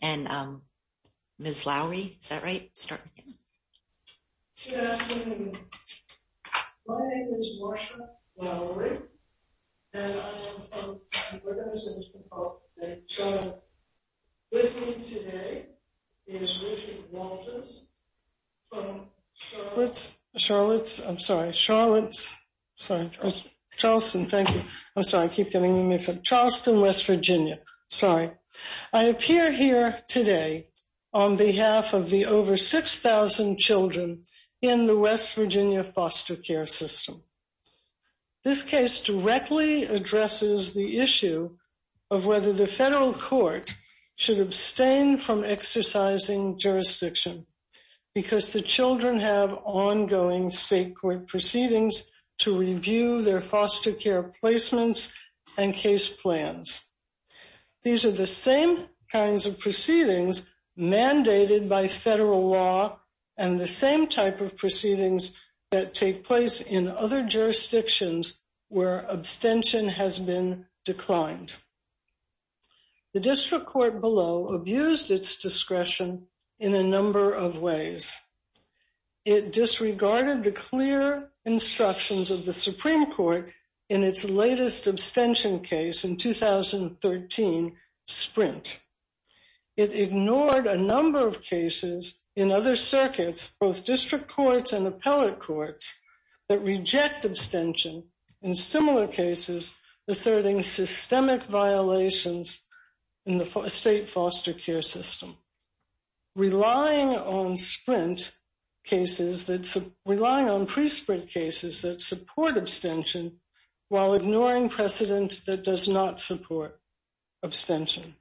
and Ms. Lowery. Is that right? Start with you. Good afternoon. My name is Marsha Lowery, and I am from California. My name is Richard Walters from Charleston, West Virginia. I appear here today on behalf of the over 6,000 children in the West Virginia foster care system. This case directly addresses the issue of whether the federal court should abstain from exercising jurisdiction because the children have ongoing state court proceedings to review their foster care placements and case plans. These are the same kinds of proceedings mandated by federal law and the same type of proceedings that take place in other jurisdictions where abstention has been declined. The district court below abused its discretion in a number of ways. It disregarded the clear instructions of the Supreme Court in its latest abstention case in 2013, Sprint. It ignored a number of cases in other circuits, both district courts and appellate courts, that reject abstention in similar cases asserting systemic violations in the state foster care system. Relying on Sprint cases, relying on pre-Sprint cases that support abstention, while ignoring precedent that does not support abstention.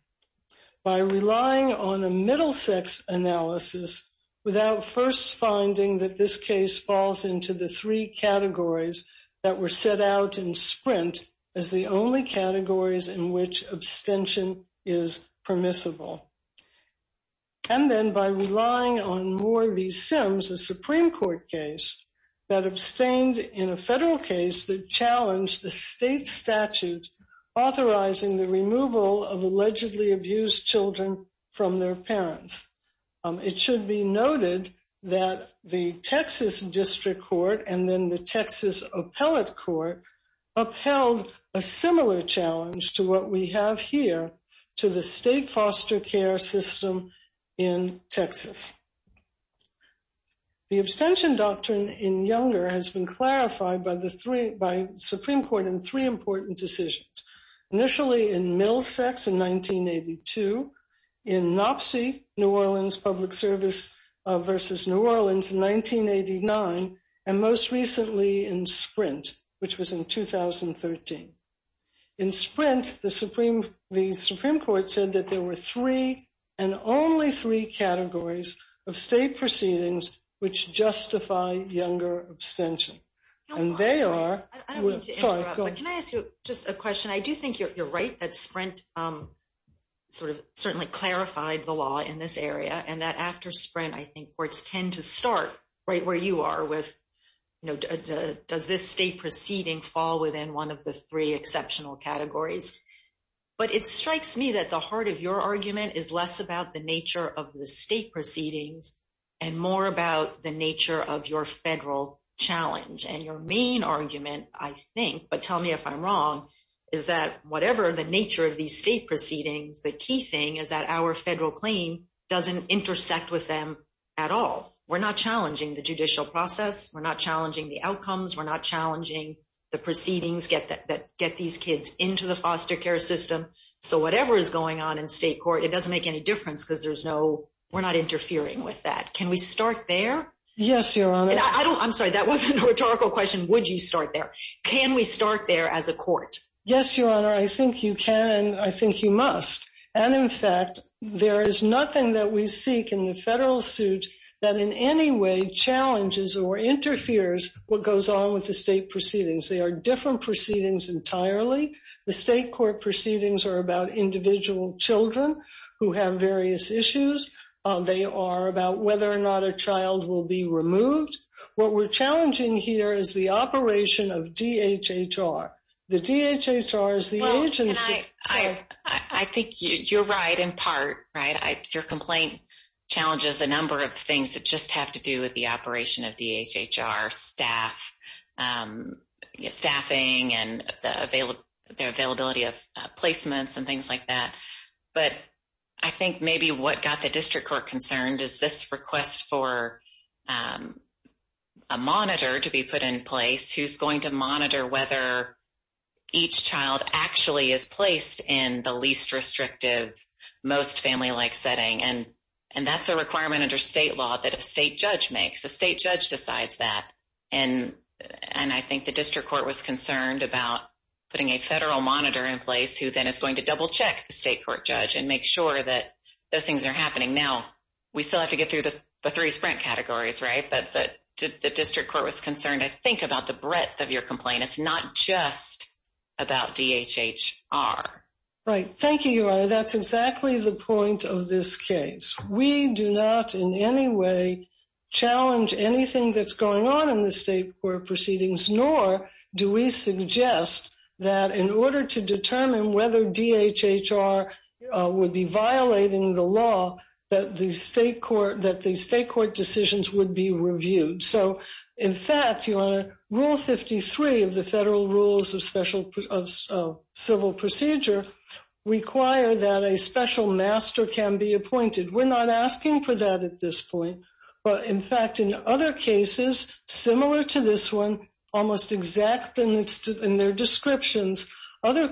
By relying on a middle sex analysis without first finding that this case falls into the three categories that were set out in Sprint as the only categories in which abstention is permissible. And then by relying on more of these sims, a Supreme Court case that abstained in a federal case that challenged the state statute authorizing the removal of allegedly abused children from their parents. It should be noted that the Texas district court and then the Texas appellate court upheld a similar challenge to what we have here to the state foster care system in Texas. The abstention doctrine in Younger has been clarified by the Supreme Court in three important decisions. Initially in middle sex in 1982, in NOPSI, New Orleans Public Service versus New Orleans in 1989, and most recently in Sprint, which was in 2013. In Sprint, the Supreme Court said that there were three and only three categories of state proceedings which justify Younger abstention. Can I ask you just a question? I do think you're right that Sprint sort of certainly clarified the law in this area and that after Sprint, I think courts tend to start right where you are with, does this state proceeding fall within one of the three exceptional categories? But it strikes me that the heart of your argument is less about the nature of the state proceedings and more about the nature of your federal challenge. And your main argument, I think, but tell me if I'm wrong, is that whatever the nature of these state proceedings, the key thing is that our federal claim doesn't intersect with them at all. We're not challenging the judicial process. We're not challenging the outcomes. We're not challenging the proceedings that get these kids into the foster care system. So whatever is going on in state court, it doesn't make any difference because we're not interfering with that. Can we start there? Yes, Your Honor. I'm sorry, that wasn't a rhetorical question. Would you start there? Can we start there as a court? Yes, Your Honor, I think you can and I think you must. And in fact, there is nothing that we seek in the federal suit that in any way challenges or interferes what goes on with the state proceedings. They are different proceedings entirely. The state court proceedings are about individual children who have various issues. They are about whether or not a child will be removed. What we're challenging here is the operation of DHHR. The DHHR is the agency. I think you're right in part, right? Your complaint challenges a number of things that just have to do with the operation of DHHR staff, staffing and the availability of placements and things like that. But I think maybe what got the district court concerned is this request for a monitor to be put in place who's going to monitor whether each child actually is placed in the least restrictive, most family-like setting. And that's a requirement under state law that a state judge makes. A state judge decides that. And I think the district court was concerned about putting a federal monitor in place who then is going to double-check the state court judge and make sure that those things are happening. Now, we still have to get through the three sprint categories, right? But the district court was concerned, I think, about the breadth of your complaint. It's not just about DHHR. Right. Thank you, Your Honor. That's exactly the point of this case. We do not in any way challenge anything that's going on in the state court proceedings, nor do we suggest that in order to determine whether DHHR would be violating the law, that the state court decisions would be reviewed. So, in fact, Your Honor, Rule 53 of the Federal Rules of Civil Procedure require that a special master can be appointed. We're not asking for that at this point. But, in fact, in other cases similar to this one, almost exact in their descriptions, other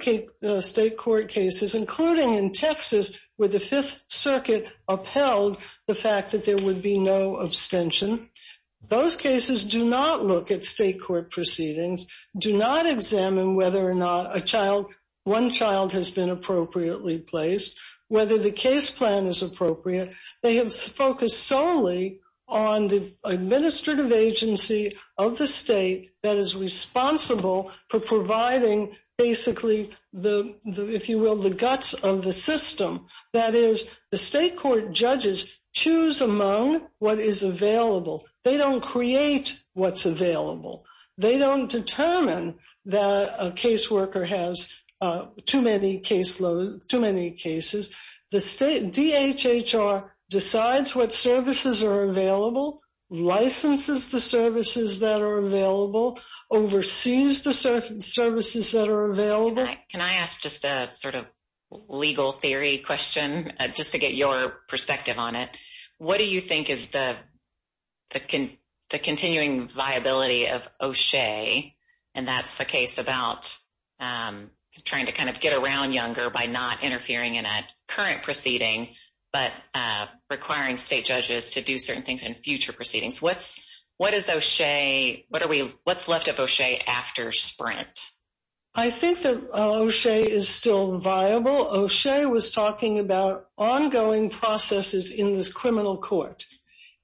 state court cases, including in Texas where the Fifth Circuit upheld the fact that there would be no abstention, those cases do not look at state court proceedings, do not examine whether or not one child has been appropriately placed, whether the case plan is appropriate. They have focused solely on the administrative agency of the state that is responsible for providing, basically, if you will, the guts of the system. That is, the state court judges choose among what is available. They don't create what's available. They don't determine that a caseworker has too many cases. DHHR decides what services are available, licenses the services that are available, oversees the services that are available. Can I ask just a sort of legal theory question just to get your perspective on it? What do you think is the continuing viability of O'Shea? And that's the case about trying to kind of get around younger by not interfering in a current proceeding, but requiring state judges to do certain things in future proceedings. What is O'Shea? What's left of O'Shea after Sprint? I think that O'Shea is still viable. O'Shea was talking about ongoing processes in this criminal court.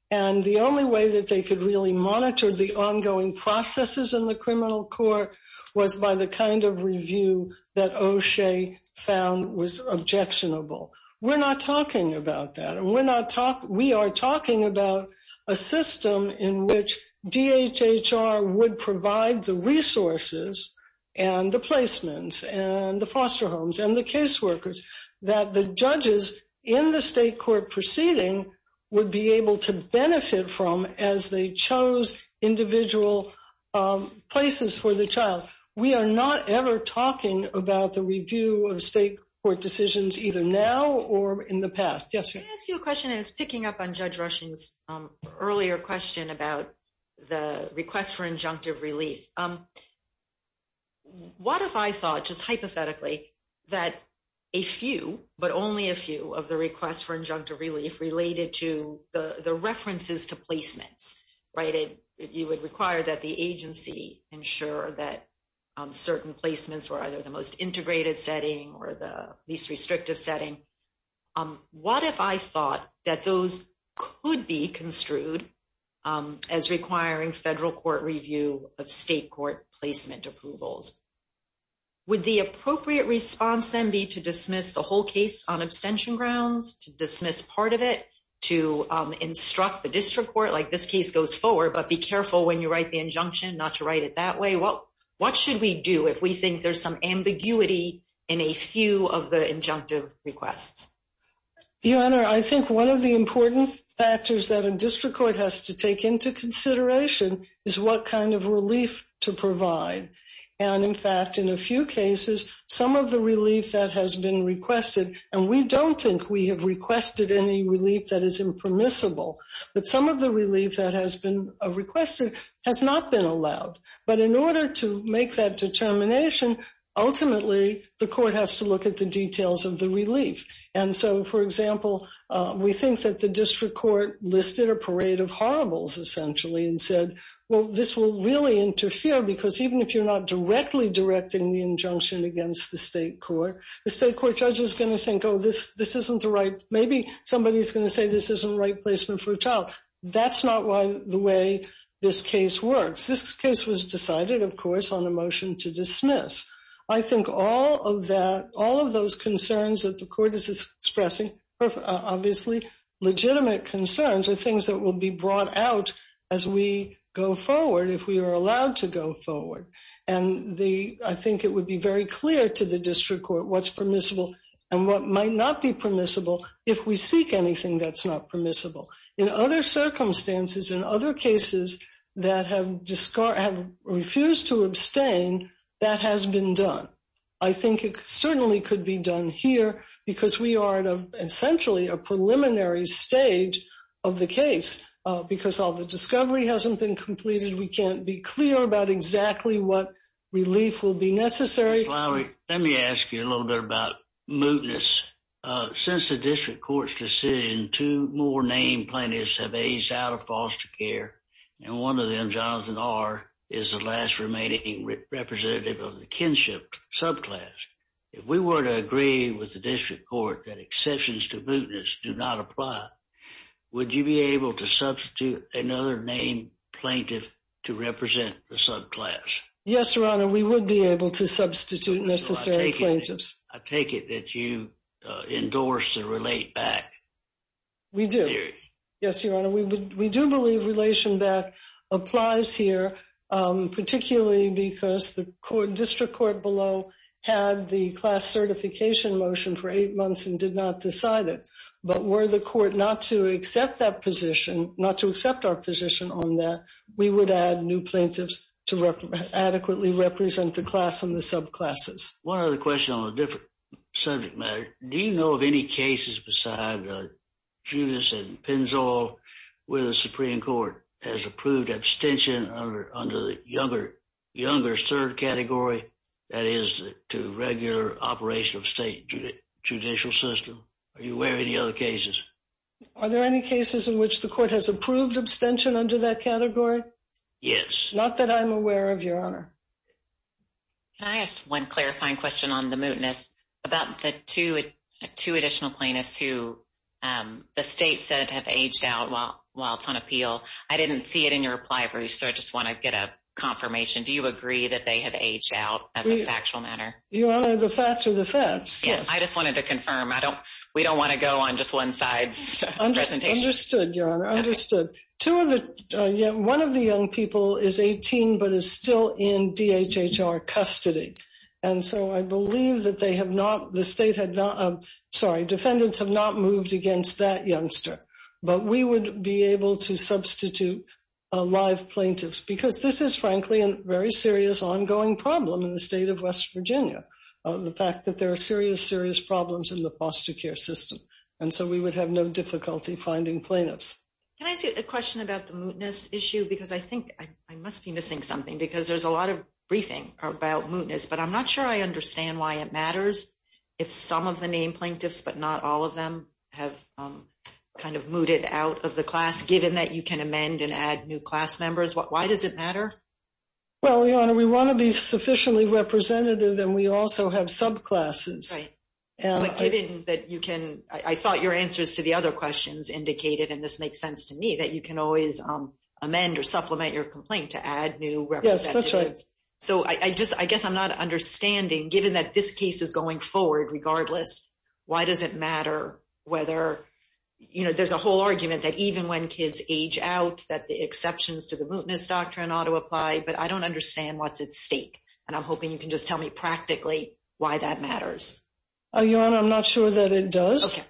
And the only way that they could really monitor the ongoing processes in the criminal court was by the kind of review that O'Shea found was objectionable. We're not talking about that. We are talking about a system in which DHHR would provide the resources and the placements and the foster homes and the caseworkers that the judges in the state court proceeding would be able to benefit from as they chose individual places for the child. We are not ever talking about the review of state court decisions either now or in the past. Can I ask you a question? And it's picking up on Judge Rushing's earlier question about the request for injunctive relief. What if I thought just hypothetically that a few, but only a few, of the requests for injunctive relief related to the references to placements? You would require that the agency ensure that certain placements were either the most integrated setting or the least restrictive setting. What if I thought that those could be construed as requiring federal court review of state court placement approvals? Would the appropriate response then be to dismiss the whole case on abstention grounds, to dismiss part of it, to instruct the district court, like this case goes forward, but be careful when you write the injunction not to write it that way? What should we do if we think there's some ambiguity in a few of the injunctive requests? Your Honor, I think one of the important factors that a district court has to take into consideration is what kind of relief to provide. And in fact, in a few cases, some of the relief that has been requested, and we don't think we have requested any relief that is impermissible, but some of the relief that has been requested has not been allowed. But in order to make that determination, ultimately, the court has to look at the details of the relief. And so, for example, we think that the district court listed a parade of horribles, essentially, and said, well, this will really interfere because even if you're not directly directing the injunction against the state court, the state court judge is going to think, oh, this isn't the right, maybe somebody's going to say this isn't right placement for a child. That's not the way this case works. This case was decided, of course, on a motion to dismiss. I think all of that, all of those concerns that the court is expressing, obviously legitimate concerns, are things that will be brought out as we go forward, if we are allowed to go forward. And I think it would be very clear to the district court what's permissible and what might not be permissible if we seek anything that's not permissible. In other circumstances, in other cases that have refused to abstain, that has been done. I think it certainly could be done here because we are at, essentially, a preliminary stage of the case. Because all the discovery hasn't been completed, we can't be clear about exactly what relief will be necessary. Let me ask you a little bit about mootness. Since the district court's decision, two more named plaintiffs have aged out of foster care, and one of them, Jonathan R., is the last remaining representative of the kinship subclass. If we were to agree with the district court that exceptions to mootness do not apply, would you be able to substitute another named plaintiff to represent the subclass? Yes, Your Honor, we would be able to substitute necessary plaintiffs. I take it that you endorse the relate back theory. We do. Yes, Your Honor. We do believe relation back applies here, particularly because the district court below had the class certification motion for eight months and did not decide it. But were the court not to accept that position, not to accept our position on that, we would add new plaintiffs to adequately represent the class and the subclasses. One other question on a different subject matter. Do you know of any cases besides Judas and Penzol where the Supreme Court has approved abstention under the younger third category, that is, to regular operation of state judicial system? Are you aware of any other cases? Are there any cases in which the court has approved abstention under that category? Yes. Not that I'm aware of, Your Honor. Can I ask one clarifying question on the mootness about the two additional plaintiffs who the state said have aged out while it's on appeal? I didn't see it in your reply, Bruce, so I just want to get a confirmation. Do you agree that they have aged out as a factual matter? Your Honor, the facts are the facts. I just wanted to confirm. We don't want to go on just one side's presentation. Understood, Your Honor. Understood. One of the young people is 18 but is still in DHHR custody. And so I believe that they have not – the state had not – sorry, defendants have not moved against that youngster. But we would be able to substitute live plaintiffs because this is, frankly, a very serious ongoing problem in the state of West Virginia, the fact that there are serious, serious problems in the foster care system. And so we would have no difficulty finding plaintiffs. Can I ask you a question about the mootness issue? Because I think I must be missing something because there's a lot of briefing about mootness, but I'm not sure I understand why it matters if some of the named plaintiffs but not all of them have kind of mooted out of the class, given that you can amend and add new class members. Why does it matter? Well, Your Honor, we want to be sufficiently representative and we also have subclasses. Right. But given that you can – I thought your answers to the other questions indicated, and this makes sense to me, that you can always amend or supplement your complaint to add new representatives. Yes, that's right. So I guess I'm not understanding, given that this case is going forward, regardless, why does it matter whether – you know, there's a whole argument that even when kids age out, that the exceptions to the mootness doctrine ought to apply, but I don't understand what's at stake. And I'm hoping you can just tell me practically why that matters. Your Honor, I'm not sure that it does. Okay.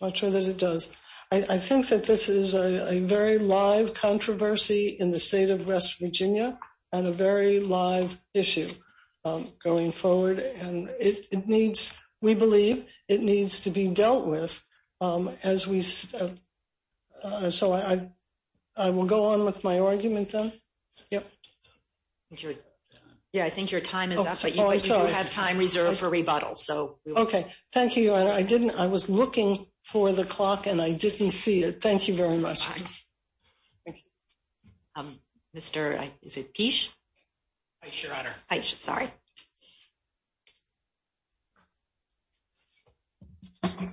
I'm not sure that it does. I think that this is a very live controversy in the state of West Virginia and a very live issue going forward. And it needs – we believe it needs to be dealt with as we – so I will go on with my argument then. Yep. Yeah, I think your time is up, but you do have time reserved for rebuttals. Okay. Thank you, Your Honor. I didn't – I was looking for the clock and I didn't see it. Thank you very much. Bye. Thank you. Mr. – is it Kish? Aish, Your Honor. Aish, sorry. Okay.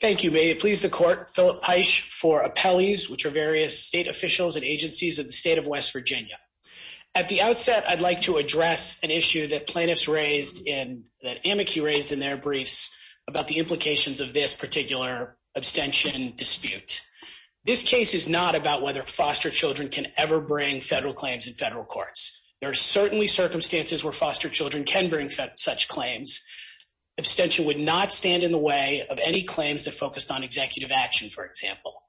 Thank you. May it please the Court, Philip Aish for appellees, which are various state officials and agencies of the state of West Virginia. At the outset, I'd like to address an issue that plaintiffs raised in – that amici raised in their briefs about the implications of this particular abstention dispute. This case is not about whether foster children can ever bring federal claims in federal courts. There are certainly circumstances where foster children can bring such claims. Abstention would not stand in the way of any claims that focused on executive action, for example.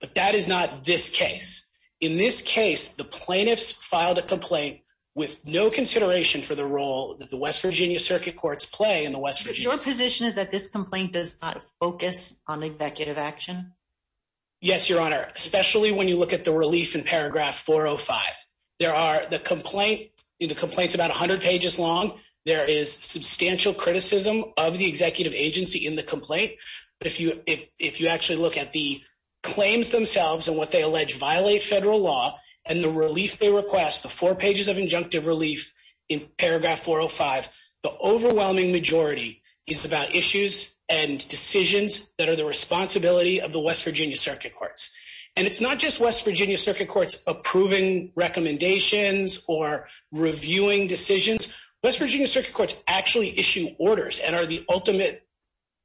But that is not this case. In this case, the plaintiffs filed a complaint with no consideration for the role that the West Virginia circuit courts play in the West Virginia – Your position is that this complaint does not focus on executive action? Yes, Your Honor, especially when you look at the relief in paragraph 405. There are – the complaint – the complaint's about 100 pages long. There is substantial criticism of the executive agency in the complaint. But if you actually look at the claims themselves and what they allege violate federal law and the relief they request, the four pages of injunctive relief in paragraph 405, the overwhelming majority is about issues and decisions that are the responsibility of the West Virginia circuit courts. And it's not just West Virginia circuit courts approving recommendations or reviewing decisions. West Virginia circuit courts actually issue orders and are the ultimate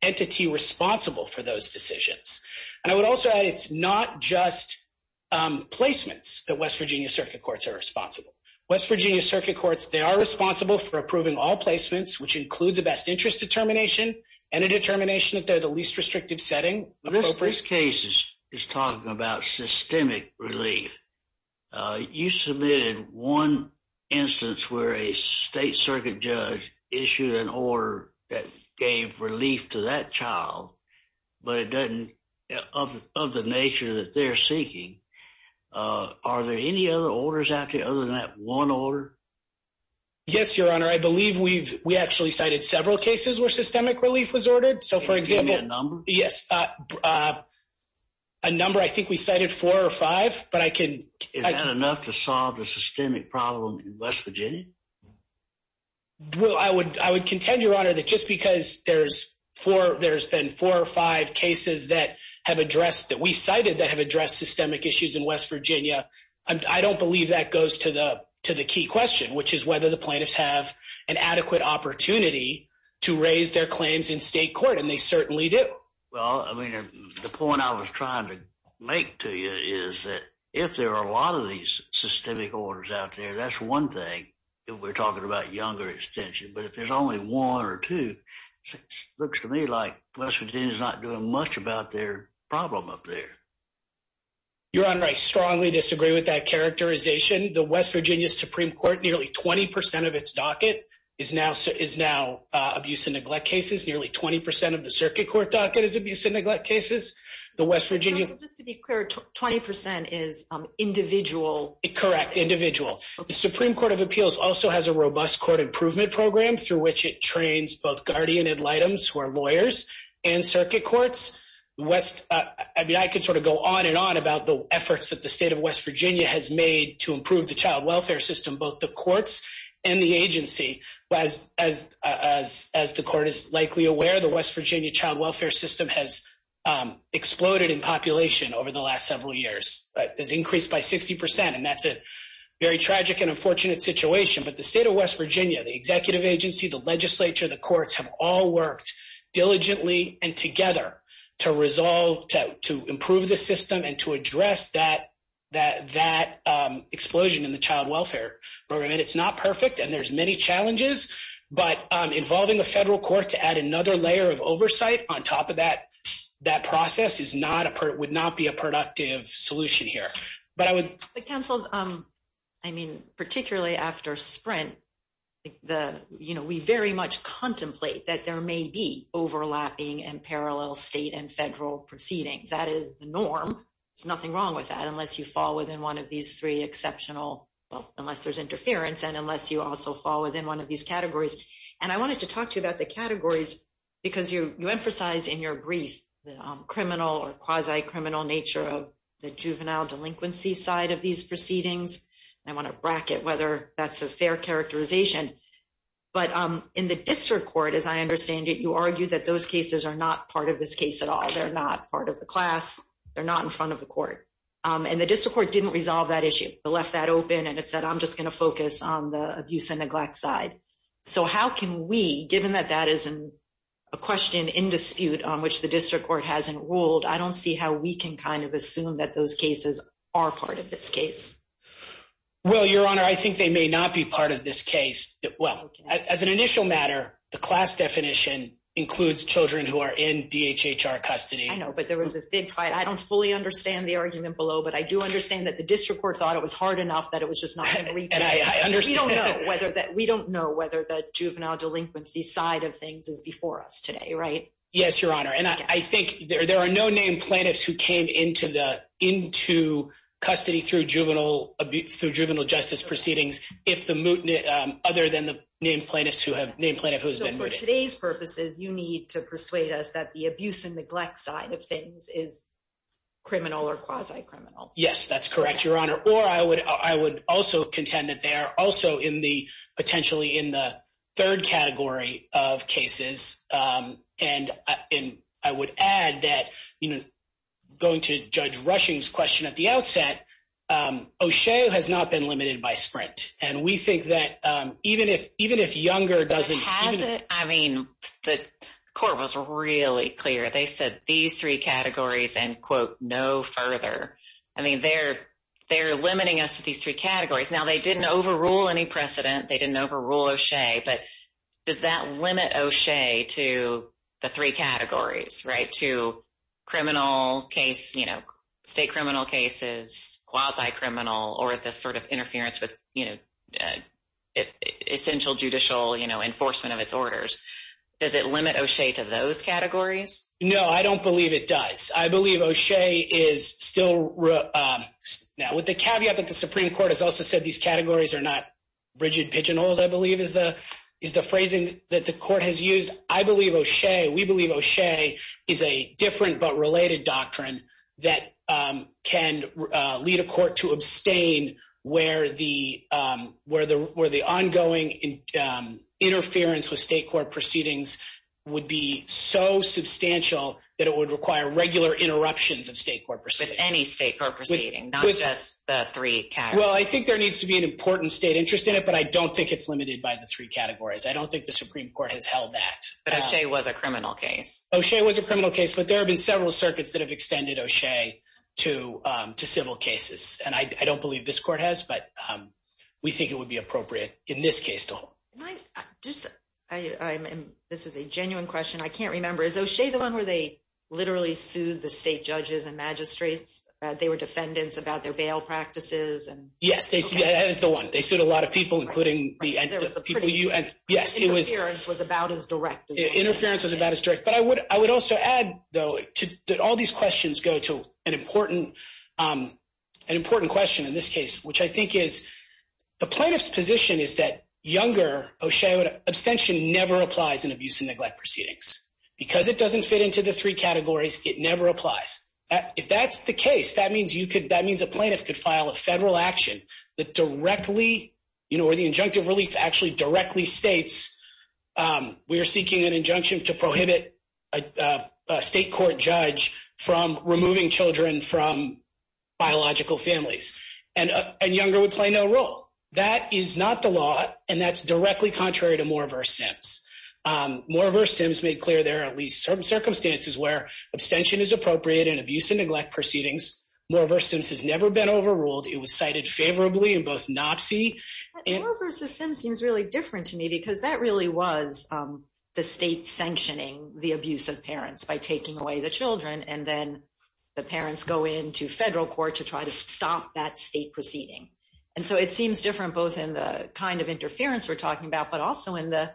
entity responsible for those decisions. And I would also add it's not just placements that West Virginia circuit courts are responsible. West Virginia circuit courts, they are responsible for approving all placements, which includes a best interest determination and a determination that they're the least restrictive setting. This case is talking about systemic relief. You submitted one instance where a state circuit judge issued an order that gave relief to that child, but it doesn't – of the nature that they're seeking. Are there any other orders out there other than that one order? Yes, Your Honor. I believe we've – we actually cited several cases where systemic relief was ordered. Can you give me a number? Yes. A number – I think we cited four or five, but I can – Is that enough to solve the systemic problem in West Virginia? Well, I would contend, Your Honor, that just because there's four – there's been four or five cases that have addressed – that we cited that have addressed systemic issues in West Virginia, I don't believe that goes to the key question, which is whether the plaintiffs have an adequate opportunity to raise their claims in state court, and they certainly do. Well, I mean, the point I was trying to make to you is that if there are a lot of these systemic orders out there, that's one thing if we're talking about younger extension. But if there's only one or two, it looks to me like West Virginia's not doing much about their problem up there. Your Honor, I strongly disagree with that characterization. The West Virginia Supreme Court, nearly 20 percent of its docket is now abuse and neglect cases. Nearly 20 percent of the circuit court docket is abuse and neglect cases. The West Virginia – Your Honor, just to be clear, 20 percent is individual – Correct. Individual. The Supreme Court of Appeals also has a robust court improvement program through which it trains both guardian ad litems, who are lawyers, and circuit courts. I mean, I could sort of go on and on about the efforts that the state of West Virginia has made to improve the child welfare system, both the courts and the agency. As the court is likely aware, the West Virginia child welfare system has exploded in population over the last several years. It has increased by 60 percent, and that's a very tragic and unfortunate situation. But the state of West Virginia, the executive agency, the legislature, the courts have all worked diligently and together to resolve – to improve the system and to address that explosion in the child welfare program. And it's not perfect, and there's many challenges, but involving the federal court to add another layer of oversight on top of that process is not – would not be a productive solution here. But I would – But, counsel, I mean, particularly after Sprint, the – you know, we very much contemplate that there may be overlapping and parallel state and federal proceedings. That is the norm. There's nothing wrong with that unless you fall within one of these three exceptional – well, unless there's interference and unless you also fall within one of these categories. And I wanted to talk to you about the categories because you emphasize in your brief the criminal or quasi-criminal nature of the juvenile delinquency side of these proceedings. And I want to bracket whether that's a fair characterization. But in the district court, as I understand it, you argue that those cases are not part of this case at all. They're not part of the class. They're not in front of the court. And the district court didn't resolve that issue. It left that open, and it said, I'm just going to focus on the abuse and neglect side. So how can we, given that that is a question in dispute on which the district court hasn't ruled, I don't see how we can kind of assume that those cases are part of this case. Well, Your Honor, I think they may not be part of this case. Well, as an initial matter, the class definition includes children who are in DHHR custody. I know, but there was this big fight. I don't fully understand the argument below, but I do understand that the district court thought it was hard enough that it was just not going to reach it. And I understand. We don't know whether the juvenile delinquency side of things is before us today, right? Yes, Your Honor. And I think there are no named plaintiffs who came into custody through juvenile justice proceedings other than the named plaintiff who has been mooted. So for today's purposes, you need to persuade us that the abuse and neglect side of things is criminal or quasi-criminal. Yes, that's correct, Your Honor. Or I would also contend that they are also potentially in the third category of cases. And I would add that going to Judge Rushing's question at the outset, O'Shea has not been limited by sprint. And we think that even if Younger doesn't… Hasn't? I mean, the court was really clear. They said these three categories and, quote, no further. I mean, they're limiting us to these three categories. Now, they didn't overrule any precedent. They didn't overrule O'Shea. But does that limit O'Shea to the three categories, right, to criminal case, state criminal cases, quasi-criminal or this sort of interference with essential judicial enforcement of its orders? Does it limit O'Shea to those categories? No, I don't believe it does. I believe O'Shea is still… Now, with the caveat that the Supreme Court has also said these categories are not rigid pigeonholes, I believe, is the phrasing that the court has used. We believe O'Shea is a different but related doctrine that can lead a court to abstain where the ongoing interference with state court proceedings would be so substantial that it would require regular interruptions of state court proceedings. With any state court proceedings, not just the three categories. Well, I think there needs to be an important state interest in it, but I don't think it's limited by the three categories. I don't think the Supreme Court has held that. But O'Shea was a criminal case. O'Shea was a criminal case, but there have been several circuits that have extended O'Shea to civil cases. And I don't believe this court has, but we think it would be appropriate in this case to hold. This is a genuine question. I can't remember. Is O'Shea the one where they literally sued the state judges and magistrates? They were defendants about their bail practices? Yes, that is the one. They sued a lot of people, including the people you – Interference was about as direct. Interference was about as direct. But I would also add, though, that all these questions go to an important question in this case, which I think is the plaintiff's position is that younger O'Shea abstention never applies in abuse and neglect proceedings. Because it doesn't fit into the three categories, it never applies. If that's the case, that means a plaintiff could file a federal action that directly – or the injunctive relief actually directly states we are seeking an injunction to prohibit a state court judge from removing children from biological families. And younger would play no role. That is not the law, and that's directly contrary to Moore v. Sims. Moore v. Sims made clear there are at least certain circumstances where abstention is appropriate in abuse and neglect proceedings. Moore v. Sims has never been overruled. It was cited favorably in both NOPSI and – Moore v. Sims seems really different to me because that really was the state sanctioning the abuse of parents by taking away the children, and then the parents go into federal court to try to stop that state proceeding. And so it seems different both in the kind of interference we're talking about, but also in the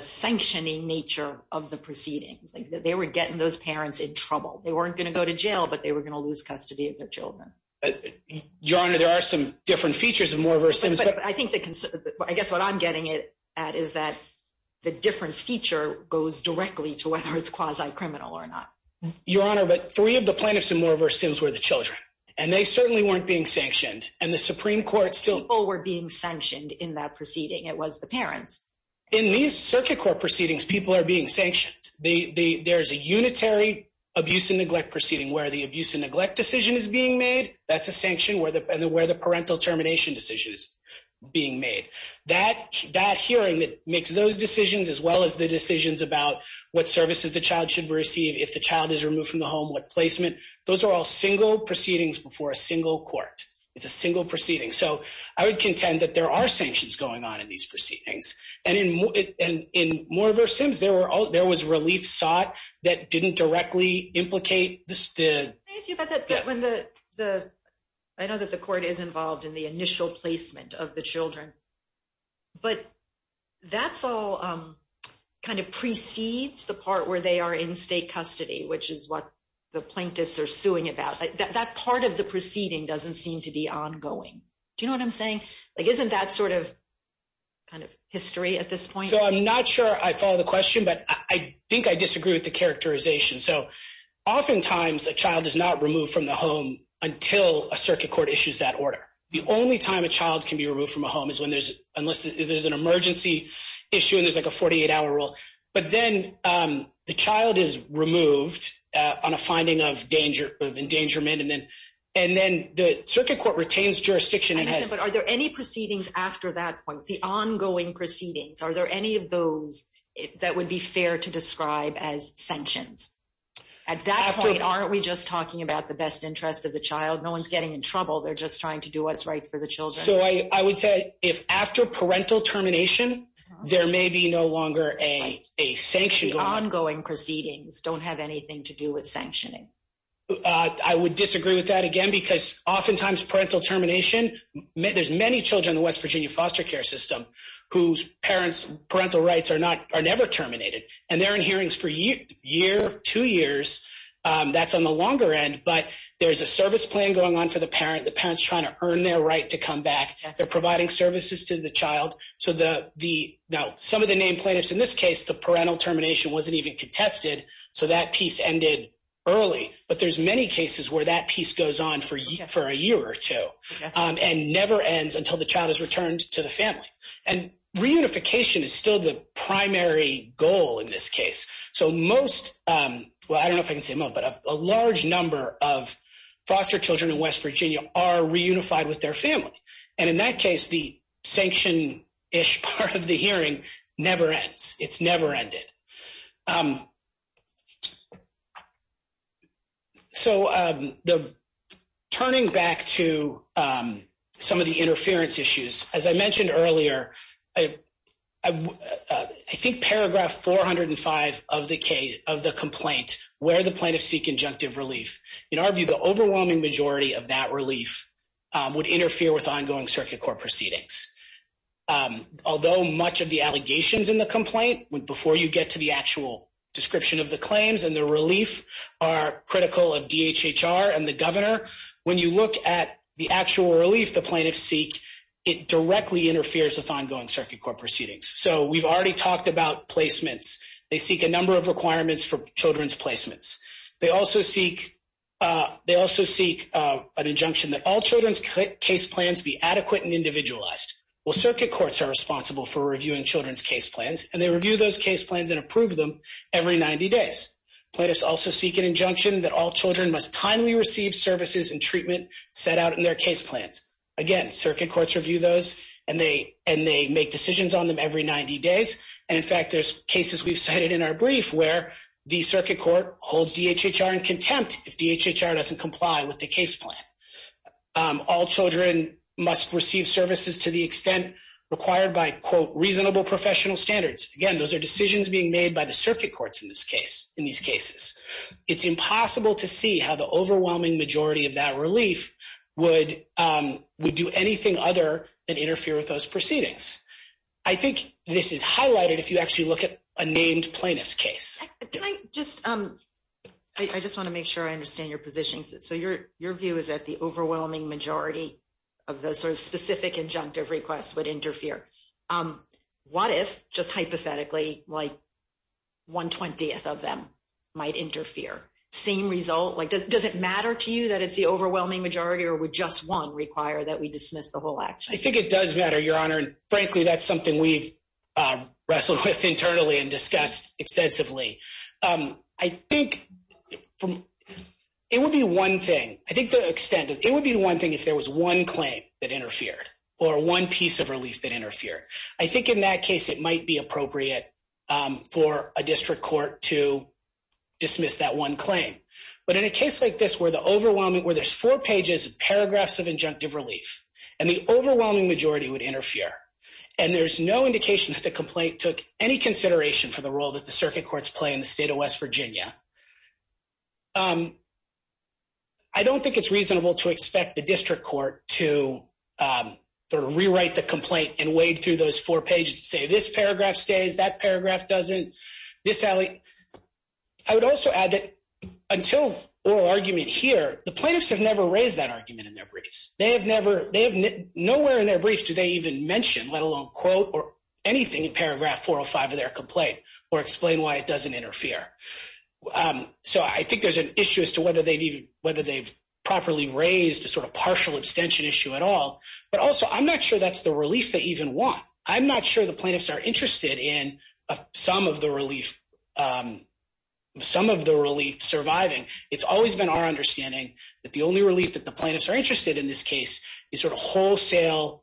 sanctioning nature of the proceedings. They were getting those parents in trouble. They weren't going to go to jail, but they were going to lose custody of their children. Your Honor, there are some different features of Moore v. Sims. But I think the – I guess what I'm getting at is that the different feature goes directly to whether it's quasi-criminal or not. Your Honor, but three of the plaintiffs in Moore v. Sims were the children, and they certainly weren't being sanctioned. And the Supreme Court still – People were being sanctioned in that proceeding. It was the parents. In these circuit court proceedings, people are being sanctioned. There's a unitary abuse and neglect proceeding where the abuse and neglect decision is being made. That's a sanction where the parental termination decision is being made. That hearing that makes those decisions as well as the decisions about what services the child should receive, if the child is removed from the home, what placement, those are all single proceedings before a single court. It's a single proceeding. So I would contend that there are sanctions going on in these proceedings. And in Moore v. Sims, there was relief sought that didn't directly implicate the – But that's all kind of precedes the part where they are in state custody, which is what the plaintiffs are suing about. That part of the proceeding doesn't seem to be ongoing. Do you know what I'm saying? Like, isn't that sort of kind of history at this point? So I'm not sure I follow the question, but I think I disagree with the characterization. So oftentimes, a child is not removed from the home until a circuit court issues that order. The only time a child can be removed from a home is when there's – unless there's an emergency issue and there's, like, a 48-hour rule. But then the child is removed on a finding of endangerment, and then the circuit court retains jurisdiction and has – Are there any proceedings after that point, the ongoing proceedings? Are there any of those that would be fair to describe as sanctions? At that point, aren't we just talking about the best interest of the child? No one's getting in trouble. They're just trying to do what's right for the children. So I would say if after parental termination, there may be no longer a sanction going on. The ongoing proceedings don't have anything to do with sanctioning. I would disagree with that, again, because oftentimes parental termination – there's many children in the West Virginia foster care system whose parents' parental rights are not – are never terminated. And they're in hearings for a year, two years. That's on the longer end, but there's a service plan going on for the parent. The parent's trying to earn their right to come back. They're providing services to the child. So the – now, some of the named plaintiffs in this case, the parental termination wasn't even contested, so that piece ended early. But there's many cases where that piece goes on for a year or two and never ends until the child is returned to the family. And reunification is still the primary goal in this case. So most – well, I don't know if I can say most, but a large number of foster children in West Virginia are reunified with their family. And in that case, the sanction-ish part of the hearing never ends. It's never ended. So the – turning back to some of the interference issues, as I mentioned earlier, I think paragraph 405 of the complaint, where the plaintiffs seek injunctive relief. In our view, the overwhelming majority of that relief would interfere with ongoing circuit court proceedings. Although much of the allegations in the complaint, before you get to the actual description of the claims and the relief, are critical of DHHR and the governor, when you look at the actual relief the plaintiffs seek, it directly interferes with ongoing circuit court proceedings. So we've already talked about placements. They seek a number of requirements for children's placements. They also seek an injunction that all children's case plans be adequate and individualized. Well, circuit courts are responsible for reviewing children's case plans, and they review those case plans and approve them every 90 days. Plaintiffs also seek an injunction that all children must timely receive services and treatment set out in their case plans. Again, circuit courts review those, and they make decisions on them every 90 days. And in fact, there's cases we've cited in our brief where the circuit court holds DHHR in contempt if DHHR doesn't comply with the case plan. All children must receive services to the extent required by, quote, reasonable professional standards. Again, those are decisions being made by the circuit courts in this case, in these cases. It's impossible to see how the overwhelming majority of that relief would do anything other than interfere with those proceedings. I think this is highlighted if you actually look at a named plaintiff's case. Can I just – I just want to make sure I understand your position. So your view is that the overwhelming majority of the sort of specific injunctive requests would interfere. What if, just hypothetically, like one-twentieth of them might interfere? Same result? Like, does it matter to you that it's the overwhelming majority or would just one require that we dismiss the whole action? I think it does matter, Your Honor, and frankly, that's something we've wrestled with internally and discussed extensively. I think it would be one thing – I think the extent – it would be one thing if there was one claim that interfered or one piece of relief that interfered. I think in that case it might be appropriate for a district court to dismiss that one claim. But in a case like this where the overwhelming – where there's four pages of paragraphs of injunctive relief and the overwhelming majority would interfere and there's no indication that the complaint took any consideration for the role that the circuit courts play in the state of West Virginia, I don't think it's reasonable to expect the district court to sort of rewrite the complaint and wade through those four pages and say this paragraph stays, that paragraph doesn't, this – I would also add that until oral argument here, the plaintiffs have never raised that argument in their briefs. They have never – nowhere in their briefs do they even mention, let alone quote or anything in paragraph 405 of their complaint or explain why it doesn't interfere. So I think there's an issue as to whether they've properly raised a sort of partial abstention issue at all. But also I'm not sure that's the relief they even want. I'm not sure the plaintiffs are interested in some of the relief surviving. It's always been our understanding that the only relief that the plaintiffs are interested in this case is sort of wholesale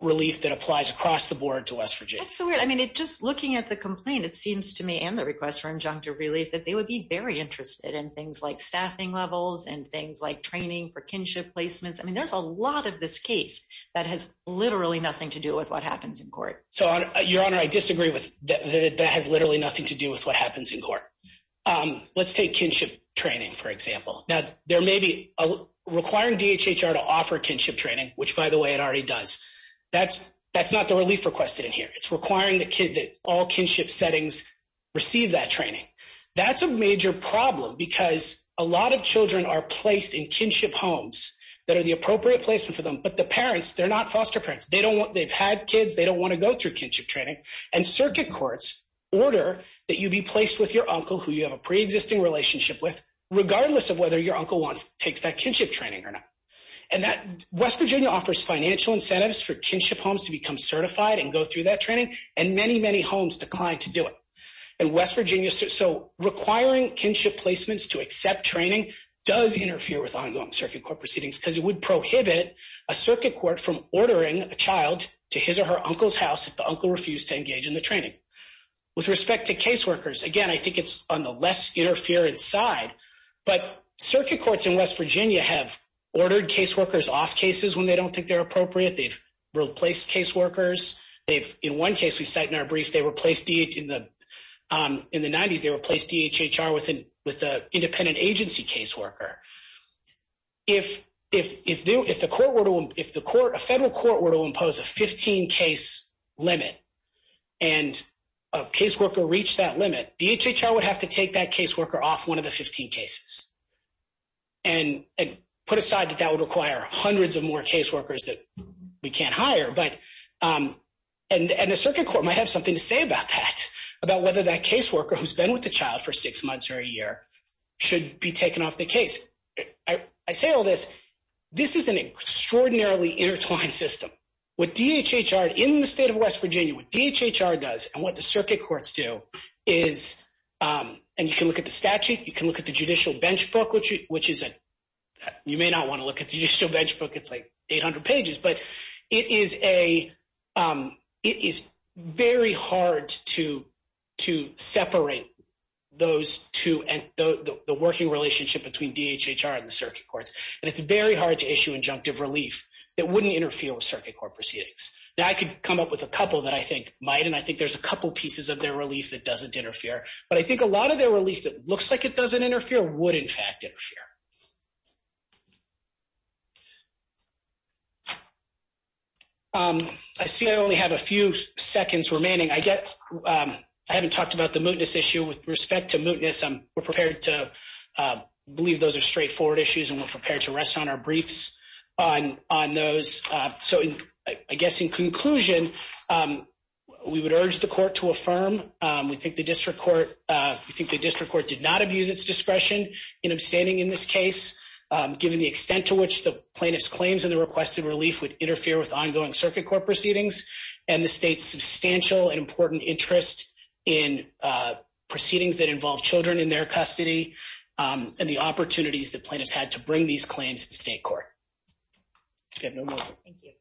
relief that applies across the board to West Virginia. That's so weird. I mean, just looking at the complaint, it seems to me and the request for injunctive relief that they would be very interested in things like staffing levels and things like training for kinship placements. I mean, there's a lot of this case that has literally nothing to do with what happens in court. So, Your Honor, I disagree that that has literally nothing to do with what happens in court. Let's take kinship training, for example. Now, requiring DHHR to offer kinship training, which, by the way, it already does, that's not the relief requested in here. It's requiring the kid that all kinship settings receive that training. That's a major problem because a lot of children are placed in kinship homes that are the appropriate placement for them. But the parents, they're not foster parents. They've had kids. They don't want to go through kinship training. And circuit courts order that you be placed with your uncle, who you have a preexisting relationship with, regardless of whether your uncle takes that kinship training or not. And West Virginia offers financial incentives for kinship homes to become certified and go through that training, and many, many homes decline to do it. So requiring kinship placements to accept training does interfere with ongoing circuit court proceedings because it would prohibit a circuit court from ordering a child to his or her uncle's house if the uncle refused to engage in the training. With respect to caseworkers, again, I think it's on the less-interfered side, but circuit courts in West Virginia have ordered caseworkers off cases when they don't think they're appropriate. They've replaced caseworkers. In one case we cite in our brief, in the 90s, they replaced DHHR with an independent agency caseworker. If a federal court were to impose a 15-case limit and a caseworker reached that limit, DHHR would have to take that caseworker off one of the 15 cases and put aside that that would require hundreds of more caseworkers that we can't hire. And a circuit court might have something to say about that, about whether that caseworker who's been with the child for six months or a year should be taken off the case. I say all this, this is an extraordinarily intertwined system. What DHHR, in the state of West Virginia, what DHHR does and what the circuit courts do is, and you can look at the statute, you can look at the judicial benchmark, which you may not want to look at the judicial benchmark. It's like 800 pages, but it is very hard to separate the working relationship between DHHR and the circuit courts. And it's very hard to issue injunctive relief that wouldn't interfere with circuit court proceedings. Now, I could come up with a couple that I think might, and I think there's a couple pieces of their relief that doesn't interfere. But I think a lot of their relief that looks like it doesn't interfere would, in fact, interfere. I see I only have a few seconds remaining. I haven't talked about the mootness issue. With respect to mootness, we're prepared to believe those are straightforward issues, and we're prepared to rest on our briefs on those. So I guess in conclusion, we would urge the court to affirm. We think the district court did not abuse its discretion in abstaining in this case, given the extent to which the plaintiff's claims and the requested relief would interfere with ongoing circuit court proceedings, and the state's substantial and important interest in proceedings that involve children in their custody and the opportunities that plaintiffs had to bring these claims to state court. Okay, no more. Thank you.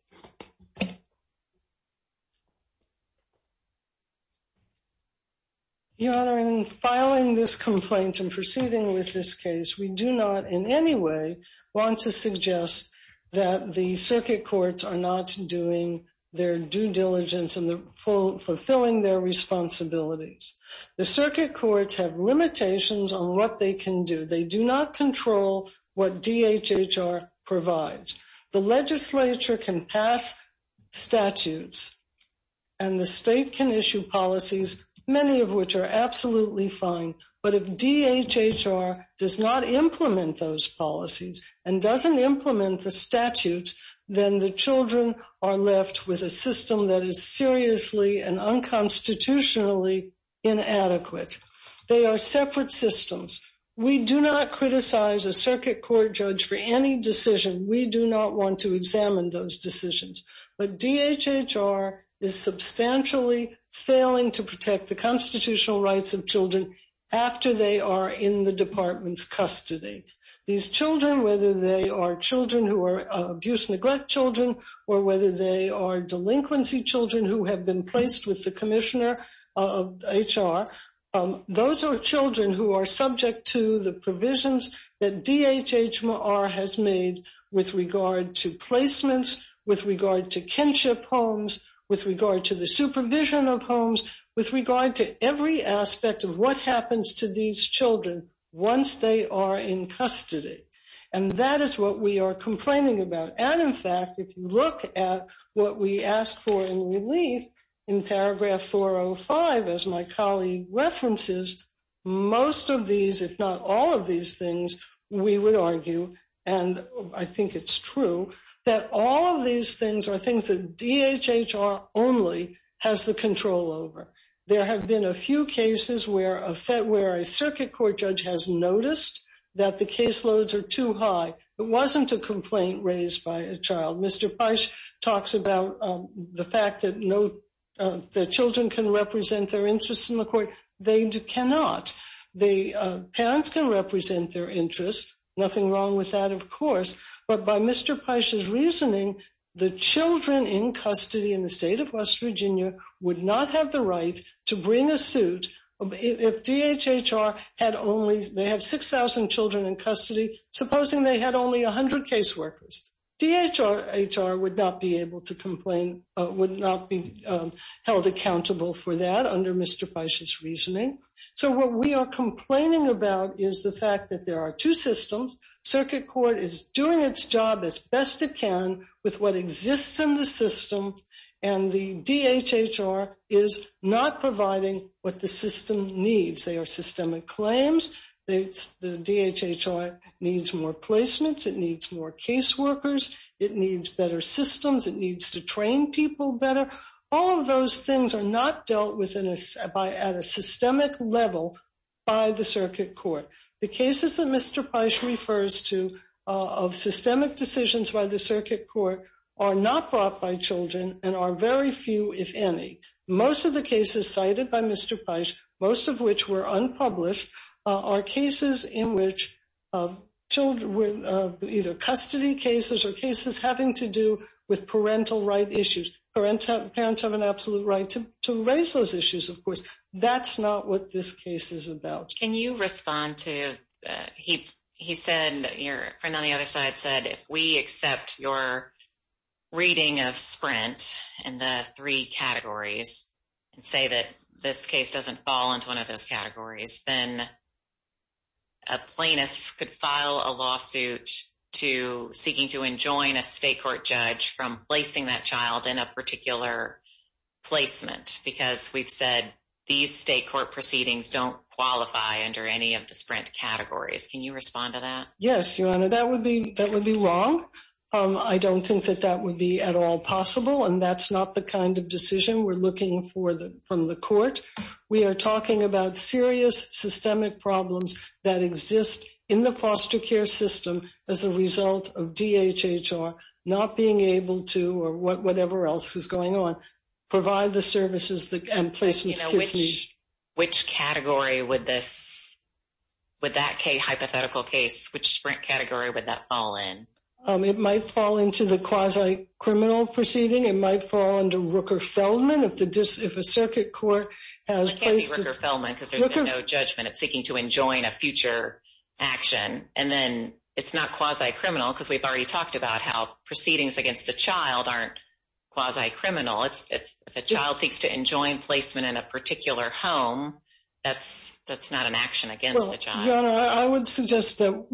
Your Honor, in filing this complaint and proceeding with this case, we do not in any way want to suggest that the circuit courts are not doing their due diligence and fulfilling their responsibilities. The circuit courts have limitations on what they can do. They do not control what DHHR provides. The legislature can pass statutes, and the state can issue policies, many of which are absolutely fine. But if DHHR does not implement those policies and doesn't implement the statutes, then the children are left with a system that is seriously and unconstitutionally inadequate. They are separate systems. We do not criticize a circuit court judge for any decision. We do not want to examine those decisions. But DHHR is substantially failing to protect the constitutional rights of children after they are in the department's custody. These children, whether they are children who are abuse-neglect children or whether they are delinquency children who have been placed with the commissioner of HR, those are children who are subject to the provisions that DHHR has made with regard to placements, with regard to kinship homes, with regard to the supervision of homes, with regard to every aspect of what happens to these children once they are in custody. And that is what we are complaining about. And, in fact, if you look at what we asked for in relief in paragraph 405, as my colleague references, most of these, if not all of these things, we would argue, and I think it's true, that all of these things are things that DHHR only has the control over. There have been a few cases where a circuit court judge has noticed that the caseloads are too high. It wasn't a complaint raised by a child. Mr. Pysh talks about the fact that children can represent their interests in the court. They cannot. Parents can represent their interests. Nothing wrong with that, of course. But by Mr. Pysh's reasoning, the children in custody in the state of West Virginia would not have the right to bring a suit if DHHR had only, they have 6,000 children in custody, supposing they had only 100 caseworkers. DHHR would not be able to complain, would not be held accountable for that under Mr. Pysh's reasoning. So what we are complaining about is the fact that there are two systems. Circuit court is doing its job as best it can with what exists in the system, and the DHHR is not providing what the system needs. They are systemic claims. The DHHR needs more placements. It needs more caseworkers. It needs better systems. It needs to train people better. All of those things are not dealt with at a systemic level by the circuit court. The cases that Mr. Pysh refers to of systemic decisions by the circuit court are not brought by children and are very few, if any. Most of the cases cited by Mr. Pysh, most of which were unpublished, are cases in which children were either custody cases or cases having to do with parental right issues. Parents have an absolute right to raise those issues, of course. That's not what this case is about. Can you respond to, he said, your friend on the other side said, if we accept your reading of Sprint and the three categories and say that this case doesn't fall into one of those categories, then a plaintiff could file a lawsuit seeking to enjoin a state court judge from placing that child in a particular placement because we've said these state court proceedings don't qualify under any of the Sprint categories. Can you respond to that? Yes, Your Honor. That would be wrong. I don't think that that would be at all possible, and that's not the kind of decision we're looking for from the court. We are talking about serious systemic problems that exist in the foster care system as a result of DHHR not being able to, or whatever else is going on, provide the services and placements kids need. Which category would that hypothetical case, which Sprint category would that fall in? It might fall into the quasi-criminal proceeding. It might fall under Rooker-Feldman if a circuit court has placed it. It can't be Rooker-Feldman because there's no judgment. It's seeking to enjoin a future action, and then it's not quasi-criminal because we've already talked about how proceedings against the child aren't quasi-criminal. If a child seeks to enjoin placement in a particular home, that's not an action against the child. Your Honor, I would suggest that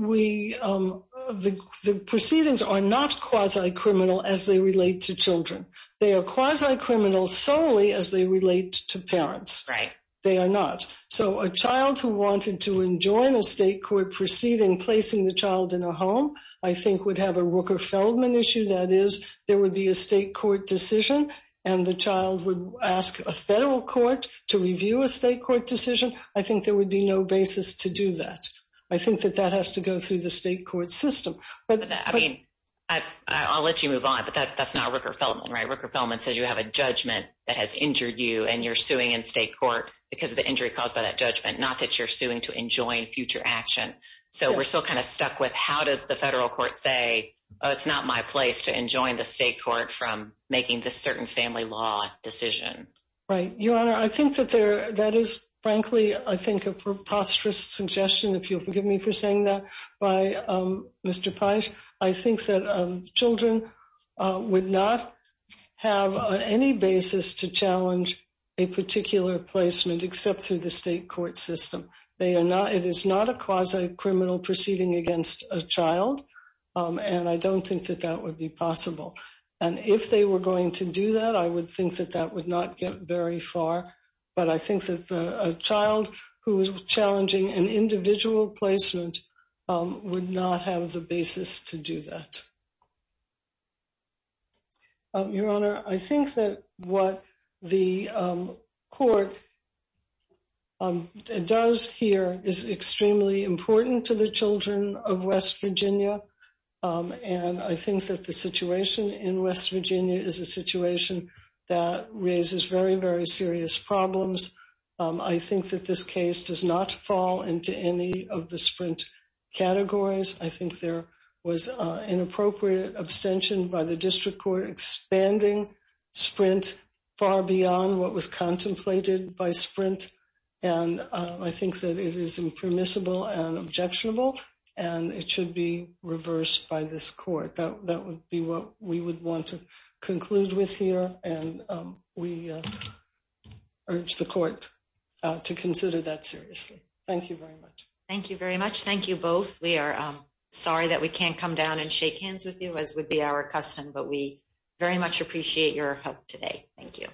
the proceedings are not quasi-criminal as they relate to children. They are quasi-criminal solely as they relate to parents. Right. They are not. So a child who wanted to enjoin a state court proceeding, placing the child in a home, I think would have a Rooker-Feldman issue. That is, there would be a state court decision, and the child would ask a federal court to review a state court decision. I think there would be no basis to do that. I think that that has to go through the state court system. I mean, I'll let you move on, but that's not Rooker-Feldman, right? Rooker-Feldman says you have a judgment that has injured you, and you're suing in state court because of the injury caused by that judgment, not that you're suing to enjoin future action. So we're still kind of stuck with how does the federal court say, oh, it's not my place to enjoin the state court from making this certain family law decision. Right. Your Honor, I think that that is, frankly, I think a preposterous suggestion, if you'll forgive me for saying that, by Mr. Paisch. I think that children would not have any basis to challenge a particular placement except through the state court system. It is not a quasi-criminal proceeding against a child, and I don't think that that would be possible. And if they were going to do that, I would think that that would not get very far. But I think that a child who is challenging an individual placement would not have the basis to do that. Your Honor, I think that what the court does here is extremely important to the children of West Virginia. And I think that the situation in West Virginia is a situation that raises very, very serious problems. I think that this case does not fall into any of the sprint categories. I think there was inappropriate abstention by the district court expanding sprint far beyond what was contemplated by sprint. And I think that it is impermissible and objectionable, and it should be reversed by this court. That would be what we would want to conclude with here, and we urge the court to consider that seriously. Thank you very much. Thank you very much. Thank you both. We are sorry that we can't come down and shake hands with you, as would be our custom, but we very much appreciate your help today. Thank you.